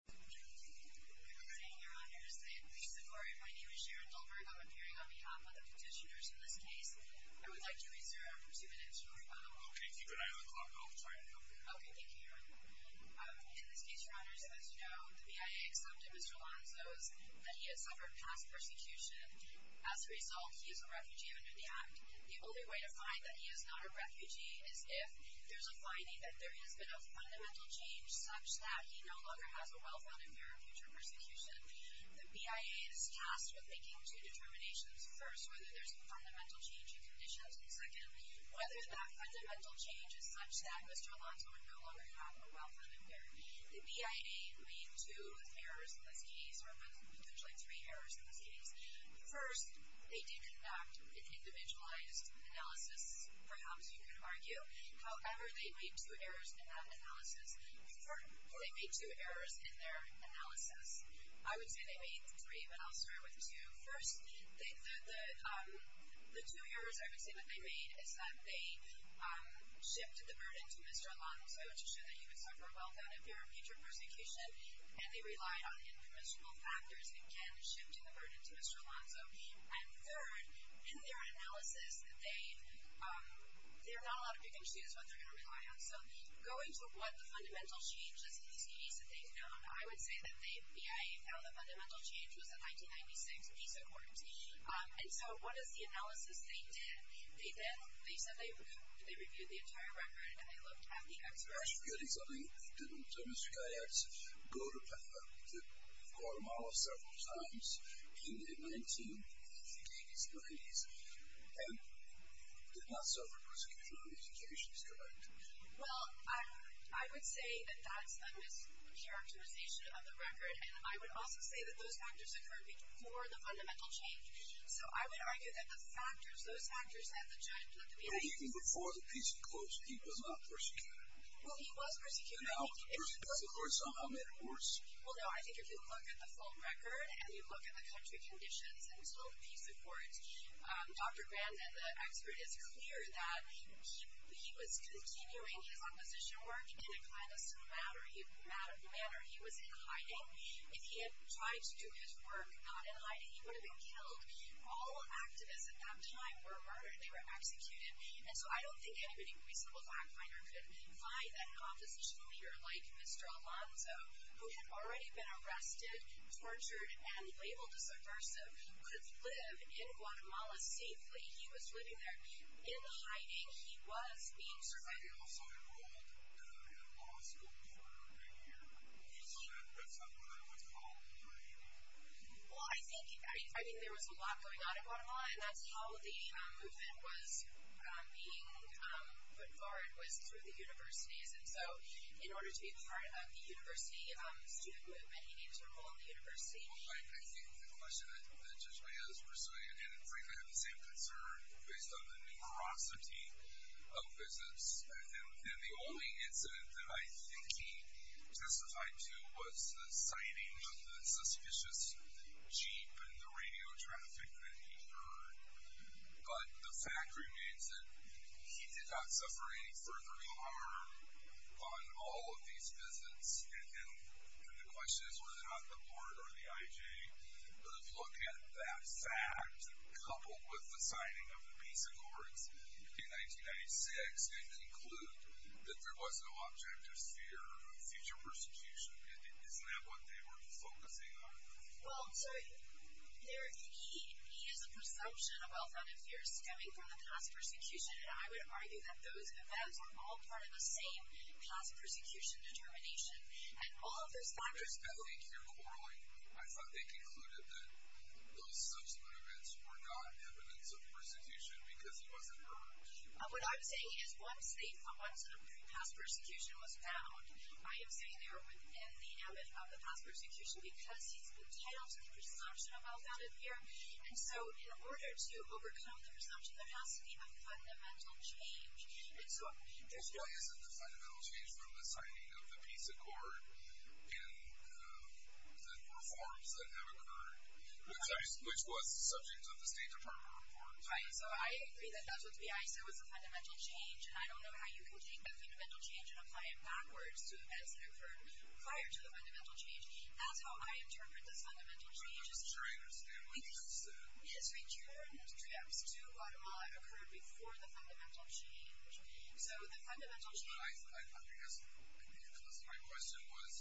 In this case, Your Honors, as you know, the BIA accepted Mr. Alonzo's, that he has suffered past persecution. As a result, he is a refugee under the Act. The only way to find that he is not a refugee is if there's a finding that there has been a fundamental change such that he no longer has a wealth of him for future persecution. The BIA is tasked with making two determinations. First, whether there's a fundamental change in conditions. Second, whether that fundamental change is such that Mr. Alonzo would no longer have a wealth of him there. The BIA made two errors in this case, or potentially three errors in this case. First, they did conduct an individualized analysis, perhaps you could argue. However, they made two errors in that analysis. They made two errors in their analysis. I would say they made three, but I'll start with two. First, the two errors I would say that they made is that they shipped the burden to Mr. Alonzo to show that he would suffer well done if there were future persecution, and they relied on informational factors. It can ship to the burden to Mr. Alonzo. And third, in their analysis, there are not a lot of big issues what they're going to rely on. So, going to what the fundamental change is in CDs that they've known, I would say that the BIA found the fundamental change was in 1996 in these accords. And so, what is the analysis they did? They said they reviewed the entire record, and they looked at the expiration date. Mr. Gayatz did not go to Petra, to Guatemala several times in the 1980s, 90s, and did not suffer persecution in all these occasions, correct? Well, I would say that that's a mischaracterization of the record, and I would also say that those factors occurred before the fundamental change. So, I would argue that the factors, those factors have the giant to look at. Well, even before the peace accords, he was not persecuted. Well, he was persecuted. No. He did not support some of the accords. Well, no. I think if you look at the full record, and you look at the country conditions until the peace accords, Dr. Grandin, the expert, is clear that he was continuing his opposition work in a clandestine manner. He was in hiding. If he had tried to do his work not in hiding, he would have been killed. All activists at that time were murdered. They were executed. And so, I don't think any reasonable fact finder could find a opposition leader like Mr. Alonzo, who had already been arrested, tortured, and labeled as aggressive, could live in Guatemala safely. He was living there. In the hiding, he was being survived. He was also involved in a law school program, and that's not what I would call hiding. Well, I think, I mean, there was a lot going on in Guatemala, and that's how the movement was being put forward, was through the universities. And so, in order to be part of the university, the student movement, you need to enroll in the university. Well, I think the question that Judge Mejia is pursuing, and frankly, I have the same concern, based on the numerosity of visits. And the only incident that I think he testified to was the sighting of the suspicious Jeep and the radio traffic that he heard. But the fact remains that he did not suffer any further harm on all of these visits. And then, the question is, was it on the board or the IJ? But if you look at that fact, coupled with the signing of the peace accords in 1996, and include that there was no objective fear of future persecution, isn't that what they were focusing on? Well, sir, there is a presumption of wealth and of fear stemming from the past persecution, and I would argue that those events were all part of the same past persecution determination. And all of those factors... I think you're quarreling. I thought they concluded that those subsequent events were not evidence of persecution because it wasn't proven. What I'm saying is, once the past persecution was found, I am saying they were within the past persecution because he's been tied onto the presumption of wealth and of fear. And so, in order to overcome the presumption, there has to be a fundamental change. And so... It really isn't a fundamental change from the signing of the peace accord and the reforms that never occurred, which was the subject of the State Department reforms. Right. So I agree that that would be... I say it was a fundamental change, and I don't know how you can take that fundamental change and apply it backwards to events that occurred prior to the fundamental change. That's how I interpret the fundamental change. I'm just trying to understand what you're saying. Yes, we turned trips to Guatemala that occurred before the fundamental change. So the fundamental change... But I think that's... Because my question was,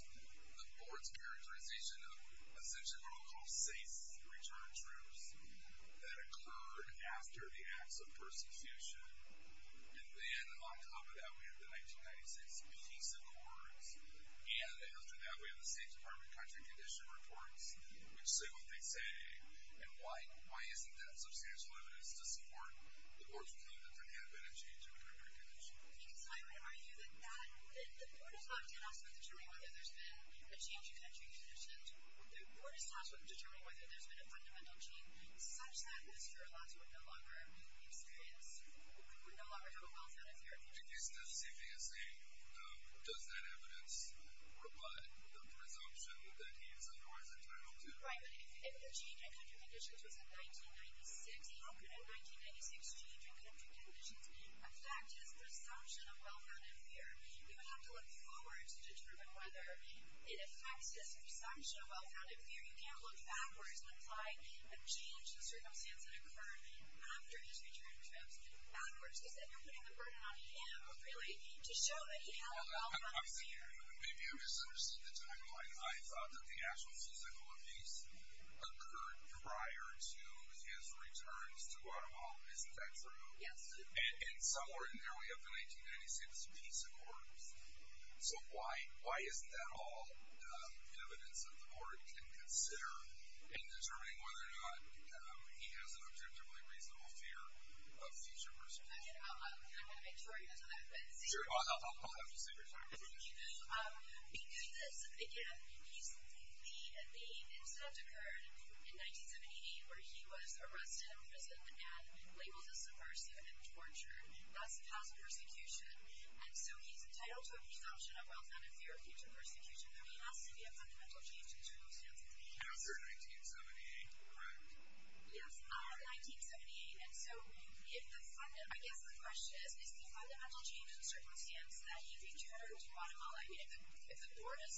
the board's characterization of essentially what we'll call SACE, Return that occurred after the acts of persecution. And then on top of that, we have the 1996 peace accords. And after that, we have the State Department country condition reports, which say what they say. And why isn't that substantial evidence to support the board's claim that there had been a change in country condition? Because I agree with you that the board is not tasked with determining whether there's been a change in country condition. The board is tasked with determining whether there's been a fundamental change, such that Mr. Arlotto would no longer experience... Would no longer have welfare and fair conditions. In the case of CVSA, does that evidence reply to the presumption that he is otherwise entitled to? Right. If the change in country conditions was in 1996, it occurred in 1996, the change in country conditions, a fact is the presumption of welfare and fair. You would have to look forward to determine whether it affects his presumption of welfare and fair. You can't look backwards and apply a change in circumstances that occurred after his return trips. Backwards. Does that mean you're putting the burden on him, really, to show that he had a welfare and fair? Maybe you misunderstood the timeline. I thought that the actual season of peace occurred prior to his returns to Guatemala. Isn't that true? Yes. And somewhere in there, we have the 1996 peace accord. So why isn't that all evidence that the court can consider in determining whether or not he has an objectively reasonable fear of future persecution? I want to make sure he doesn't have to say anything. I'll have you say your time. Thank you. Because, again, the incident occurred in 1978, where he was arrested in prison and labeled as a subversive and tortured. Thus, he has persecution. And so he's entitled to a presumption of welfare and a fear of future persecution. But he has to be a fundamental change in circumstances. After 1978, correct? Yes. In 1978. And so, I guess the question is, is the fundamental change in circumstance that he returned to Guatemala? I mean, if the court is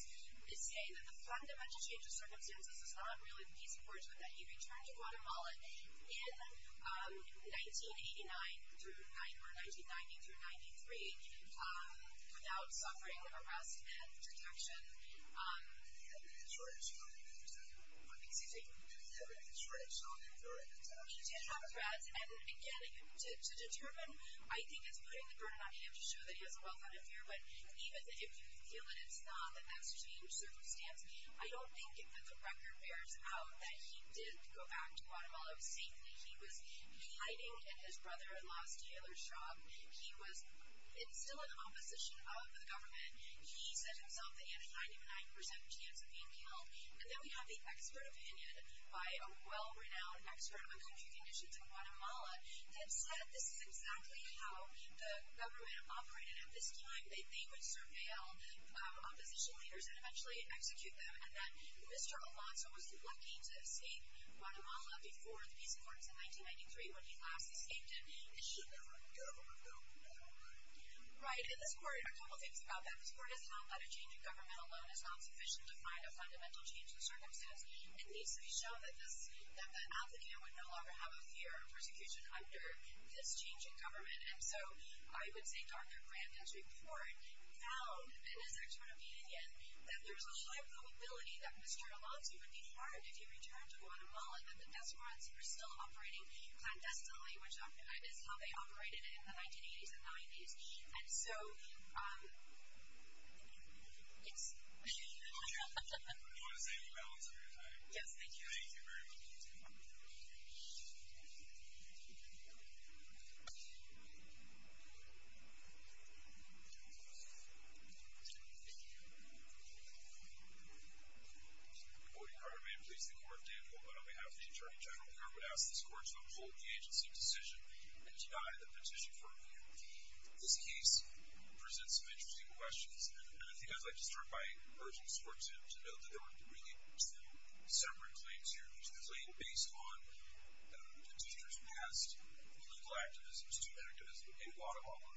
saying that the fundamental change of circumstances is not really the in 1989 through 1990, or 1990 through 93, without suffering an arrest and detection, that would be a shortage on him. So, what makes you think that would be a shortage on him? He did have a threat. And, again, to determine, I think it's putting the burden on him to show that he has a welfare and a fear. But even if you feel that it's not, that that's a change in circumstance, I don't think that the record bears out that he did go back to Guatemala safely. He was delighting in his brother-in-law's tailor shop. He was still in opposition of the government. He said himself that he had a 99% chance of being killed. And then we have the expert opinion by a well-renowned expert on country conditions in Guatemala that said this is exactly how the government operated at this time. They would surveil opposition leaders and eventually execute them. And that Mr. Alonzo was lucky to have stayed in Guatemala before the peace accords in 1993 when he last escaped it. And he would go, go, go, go. Right. And this court did a couple of things about that. This court has found that a change in government alone is not sufficient to find a fundamental change in circumstance. It needs to be shown that this, that the applicant would no longer have a fear of persecution under this change in government. And so I would say, Dr. Grant, his report found, and his expert opinion again, that there's a high probability that Mr. Alonzo would be harmed if he returned to Guatemala and that the deserants were still operating clandestinely, which is how they operated in the 1980s and 90s. And so, yes. Do you want to say anything else? Yes, thank you. Thank you very much. Any other questions? On behalf of the Attorney General, the Court would ask this Court to uphold the agency of decision and deny the petition for review. This case presents some interesting questions, and I think I'd like to start by urging this Court to note that there were really two separate claims here, which was labeled based on the teacher's past legal activism, his two-year activism in Guatemala.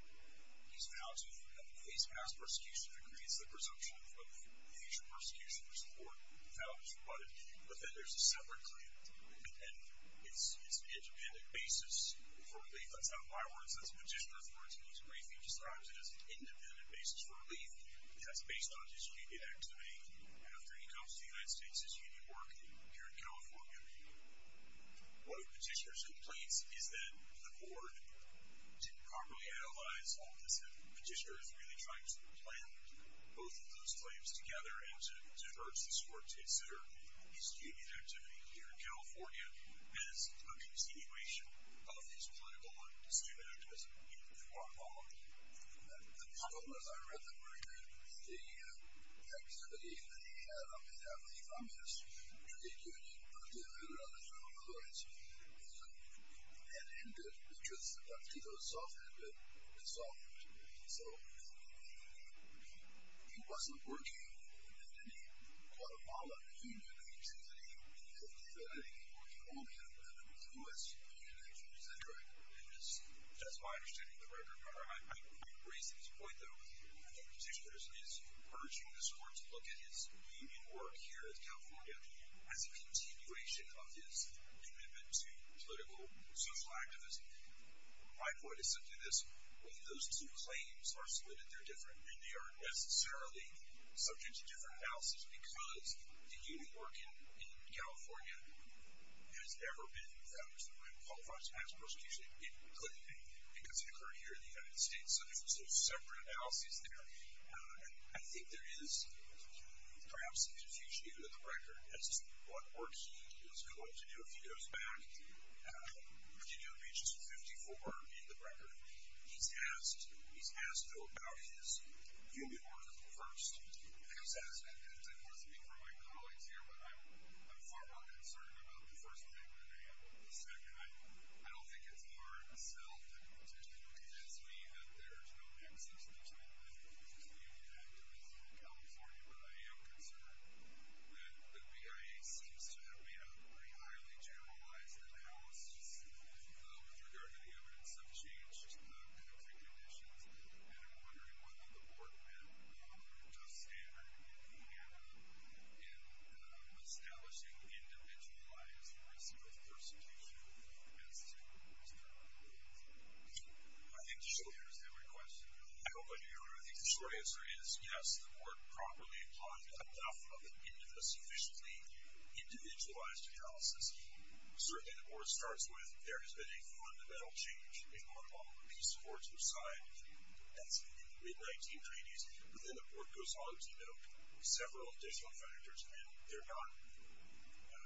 He's now to have a face-to-face persecution that creates the presumption of future persecution, which the Court found was rebutted. But then there's a separate claim that it's an independent basis for relief. That's not my words. That's a petitioner's words, and he's briefly described it as an independent basis for relief. That's based on his repeated activities. And after he comes to the United States, he's going to be working here in California. What the petitioner's complaint is that the Court didn't properly analyze all this, and the petitioner is really trying to blend both of those claims together and to urge this Court to consider his human activity here in California as a continuation of his political and his human activism in Guatemala. Thank you for that. The problem, as I read the record, is the activity that he had on behalf of the families, which he had given to the other federal authorities, had ended, which was about to go soft, ended, dissolved. So he wasn't working in any Guatemala. He knew that he was in the Philippines or in Colombia, but he knew that he was in the United States. Is that correct? And that's my understanding of the record. I agree to this point, though. I think the petitioner is urging this Court to look at his union work here in California as a continuation of his commitment to political, social activism. My point is something that's when those two claims are submitted, they're different, and they aren't necessarily subject to different analysis because the union work in California has ever been, has ever been qualified to pass a prosecution. It couldn't be because it occurred here in the United States, so there's separate analysis there. I think there is perhaps a diffusion in the record as to what work he was called to do a few years back. Virginia Beach is 54 in the record. He's asked, though, about his union work first. I think that's worth a week for my colleagues here, but I'm far more concerned about the first thing than I am about the second. I don't think it's hard to tell that the petitioner told his union that there is no nexus between the union team and the commission in California, but I am concerned that the BIA seems to have made a very highly generalized analysis with regard to the evidence of changed political conditions, and I'm wondering whether the Board met with Justice Anderson and the panel in establishing individualized risk of prosecution as to his current work. I think the short answer is yes, the Board properly applied enough of it into the sufficiently individualized analysis. Certainly the Board starts with there has been a fundamental change in one of all the piece of work you've signed. That's in the mid-1990s, but then the Board goes on to note several additional factors, and they're not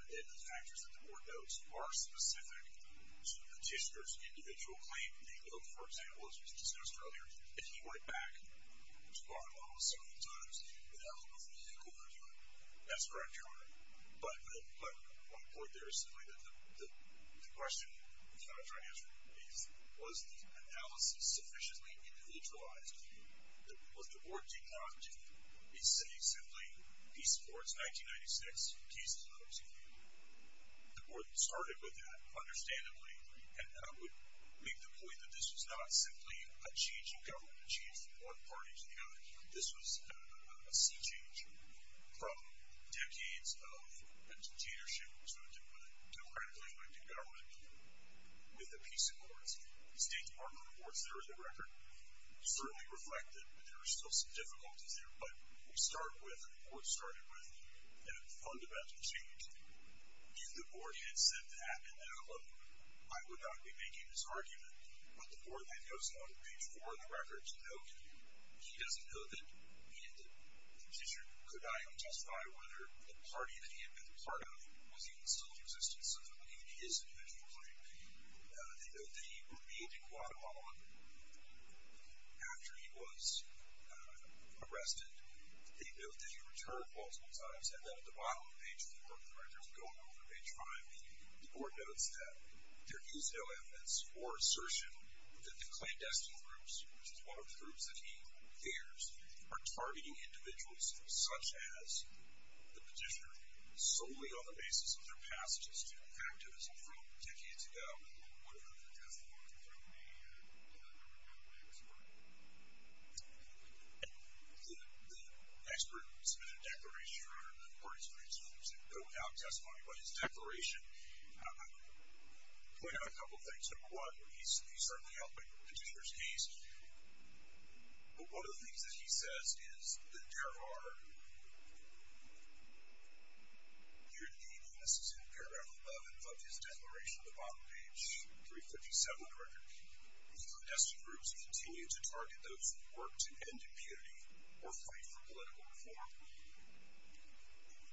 in the factors that the Board notes are specific to the petitioner's individual claim. The oath, for example, as was discussed earlier, if he went back to trial almost several times, would that look like a vehicle for him? That's correct, Your Honor. But my point there is simply that the question we sought to answer is, was the analysis sufficiently individualized? The Board did not say simply Peace Accords, 1996, Peace Accords. The Board started with that, understandably, and I would make the point that this was not simply a change in government, a change from one party to the other. This was a sea change from decades of a petitionership to a democratically elected government with the Peace Accords. The State Department reports there is a record. We certainly reflect that there are still some difficulties there, but we start with what the Board started with and fundamentally changed. If the Board had said that, I would not be making this argument, but the Board had notes on page 4 of the record to note that he doesn't know that he ended the petition. Could I testify whether a party that he had been part of was even still in existence? He is individually. They note that he remained in Guatemala after he was arrested. They note that he returned multiple times, and that at the bottom of page 4 of the record is going over a time. The Board notes that there is no evidence or assertion that the clandestine groups, which is one of the groups that he fears, are targeting individuals such as the petitioner, solely on the basis of their passages to activism from decades ago. What about the testimony from the other members of the executive? The expert who submitted a declaration, or the parties who had seen him go out testifying about his declaration, pointed out a couple of things. Number one, he certainly helped in the petitioner's case. But one of the things that he says is that there are peer-to-peer witnesses who care about the relevance of his declaration. At the bottom of page 357 of the record, the clandestine groups continue to target those who work to end impunity or fight for political reform.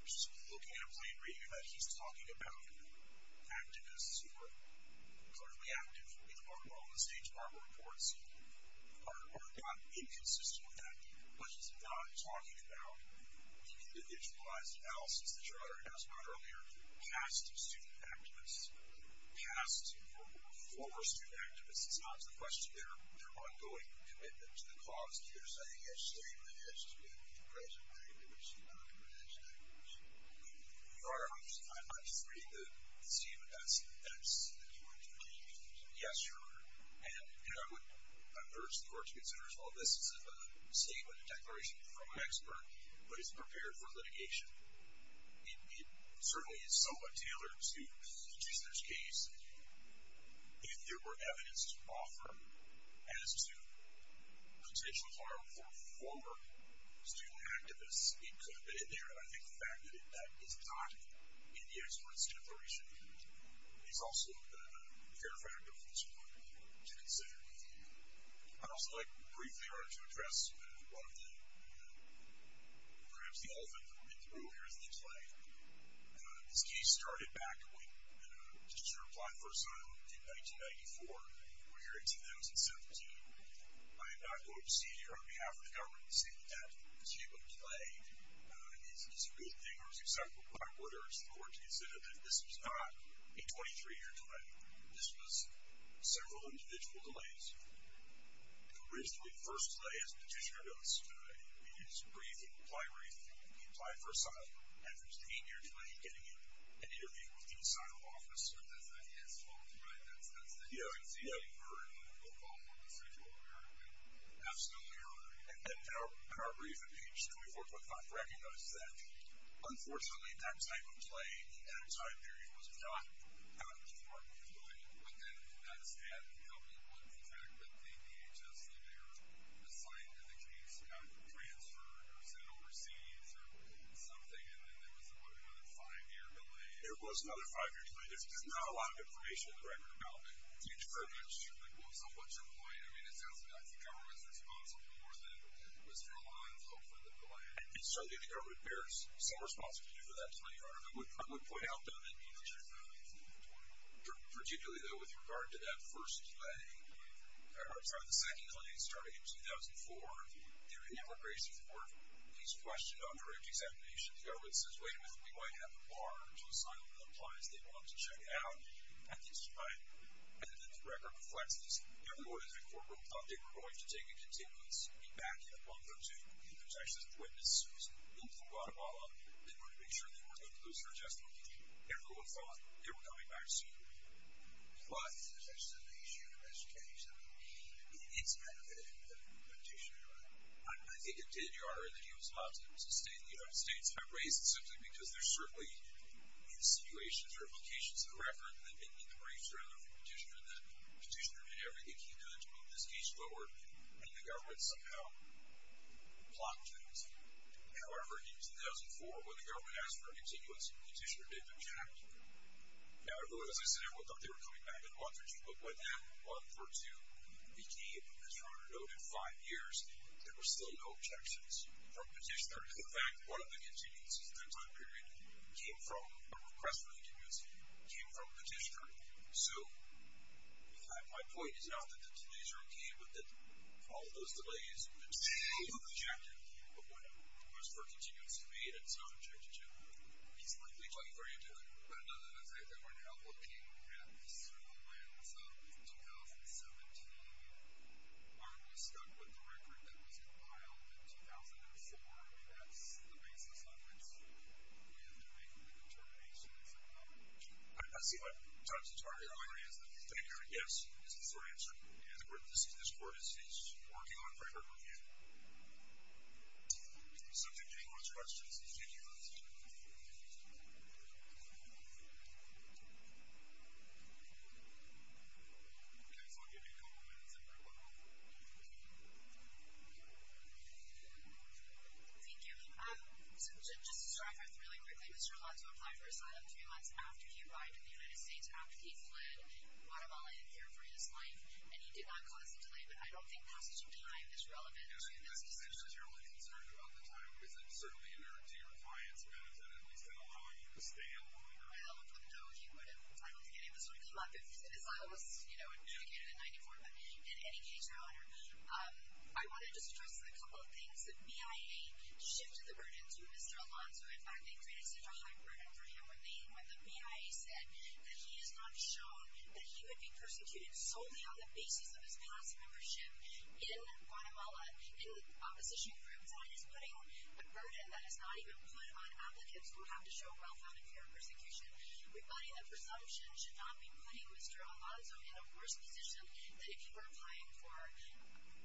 Just look amply and read that he's talking about activists who are collectively active in the work world. The State Department reports are not inconsistent with that. But he's not talking about the individualized analysis that Gerardo had asked about earlier, past student activists, past and former student activists. It's not a question of their ongoing commitment to the cause. If there's a hitch there, even if the hitch is being made at the present time, it is not a connection that can be made. Gerardo, I'm not afraid to assume that that's the case. Yes, sir. And I would urge the court to consider, as well, this is a statement, a declaration from an expert, but it's prepared for litigation. It certainly is somewhat tailored to the petitioner's case. If there were evidence to offer as to potential harm for former student activists, it could have been in there. But I think the fact that that is not in the expert's declaration is also a fair factor for this court to consider. I'd also like, briefly, to address one of the, perhaps, the elephant in the room here in the play. This case started back when, just to reply for a second, in 1994. We're here in 2017. I am not going to see here, on behalf of the government, see that the shape of the play is a good thing or is acceptable. But I would urge the court to consider that this was not a 23-year delay. This was several individual delays. Originally, the first delay, as the petitioner notes, is briefing, applied briefing, applied for asylum. And there was the eight-year delay in getting in and interviewing with the asylum officer. And that's the elephant, right? That's the elephant. Yeah, it's the elephant for a local individual apparently. Absolutely right. And our brief in page 24.5 recognizes that. Unfortunately, that type of play, that time period, was not a 24-year delay. But then, not a stand-alone contract with the DHS that they were assigned in the case, got transferred, or sent overseas, or something, and then there was a five-year delay. There was another five-year delay. There's not a lot of information on the record about the deterrence. Well, so what's your point? I mean, it sounds like the government's responsible more than it was their line of hope for the delay. And so the government bears some responsibility for that 24-hour delay. I would point out, though, that the DHS did not have a 24-hour delay, particularly, though, with regard to that first delay. The second delay started in 2004. The immigration court is questioned on direct examination. The government says, wait a minute. We might have a bar to asylum that applies. They want them to check out. And the record reflects this. The record is that the corporal thought they were going to take a contiguous backing up on them, too. There's actually a witness who was in Guatemala that wanted to make sure they weren't going to lose their adjustment. Everyone thought they were coming back soon. But there's actually an issue of education. It's benefited the petitioner, right? I think it did, Your Honor, that he was allowed to stay in the United States. I raise this simply because there's certainly new situations or implications in the record that may be in the brainstorm of the petitioner that the petitioner did everything he could to move this case forward. And the government somehow blocked it. However, in 2004, when the government asked for a contiguous, the petitioner didn't object. Now, everyone was listening. Everyone thought they were coming back in a month or two. But when that month or two became, as Your Honor noted, five years, there were still no objections from the petitioner. In fact, one of the contingencies in that time period came from a request from the community, came from the petitioner. So in fact, my point is not that the delays are key, but that all of those delays in particular are an objection of what was for a contingency made and is not an objection to. He's likely talking very intently about it. No, no, no. They were not looking at the civil lands of 2017. Our law stuck with the record that was compiled in 2004. I mean, that's the basis on which we have to make the determinations and whatnot. I see what Dr. Tarver earlier answered. Thank you. Yes, this is your answer. And this Court is working on forever again. So thank you very much for your questions. Thank you, Your Honor. Thank you. So just to start off really quickly, Mr. Alonzo applied for asylum three months after he arrived in the United States, after he fled Guatemala and here for his life. And he did not cause a delay. But I don't think passage of time is relevant to this decision. No, I mean, that's essentially your only concern throughout the time. Because it's certainly inert to your client's benefit that he's going to allow you to stay in the world. I don't know if he would have. I don't think any of this would come up if asylum was adjudicated in 1994. But in any case, Your Honor, I want to just address a couple of things that BIA shifted the burden to Mr. Alonzo. In fact, they created such a high burden for him when the BIA said that he is not shown that he would be persecuted solely on the basis of his past membership in Guatemala. And the opposition group then is putting a burden that is not even put on applicants who have to show well-founded fear of persecution. We believe that presumption should not be putting Mr. Alonzo in a worse position than if he were applying for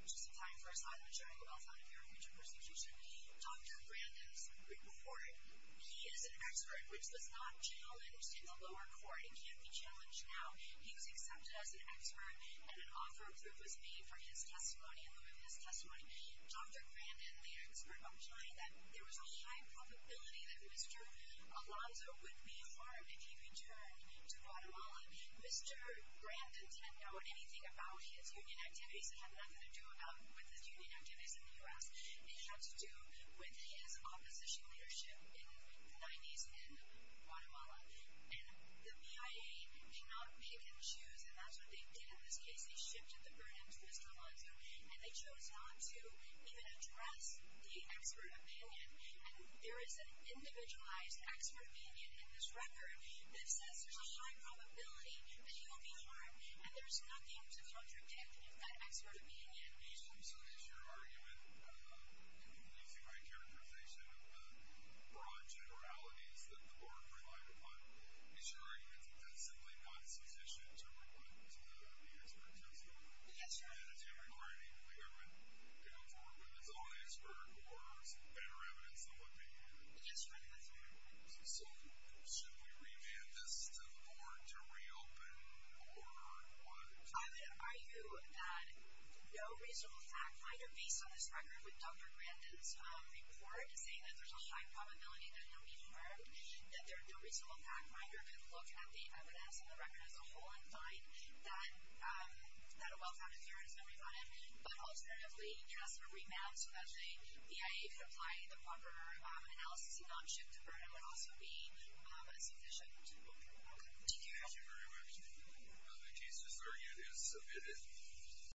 just applying for asylum during a well-founded fear of future persecution. Dr. Brandon's report, he is an expert, which was not challenged in the lower court. It can't be challenged now. He was accepted as an expert. And an offer of proof was made from his testimony and with his testimony. Dr. Brandon, the expert, implied that there was a high probability that Mr. Alonzo would be harmed if he returned to Guatemala. Mr. Brandon didn't know anything about his union activities and had nothing to do with the union activities in the US. They had to do with his opposition leadership in the 90s in Guatemala. And the BIA did not make him choose. And that's what they did in this case. They shifted the burden to Mr. Alonzo. And they chose not to even address the expert opinion. And there is an individualized expert opinion in this record that says there's a high probability that he will be harmed. And there's nothing to contradict that expert opinion. So is your argument, using my characterization of the broad generalities that the board relied upon, is your argument that that's simply not sufficient to refer to the expert testimony? Yes, sir. Is it requiring the government to inform them that it's only a spurt or some better evidence than what they need? Yes, sir. So should we remand this to the board to reopen or what? I would argue that no reasonable fact finder, based on this record with Dr. Brandon's report, is saying that there's a high probability that he'll be harmed. That there are no reasonable fact finder could look at the evidence in the record as a whole and find that a well-founded theorist may be harmed. But alternatively, yes, a remand so that the BIA could apply the proper analysis and not shift the burden would also be sufficient to do that. Thank you very much. Thank you. The case is argued and submitted.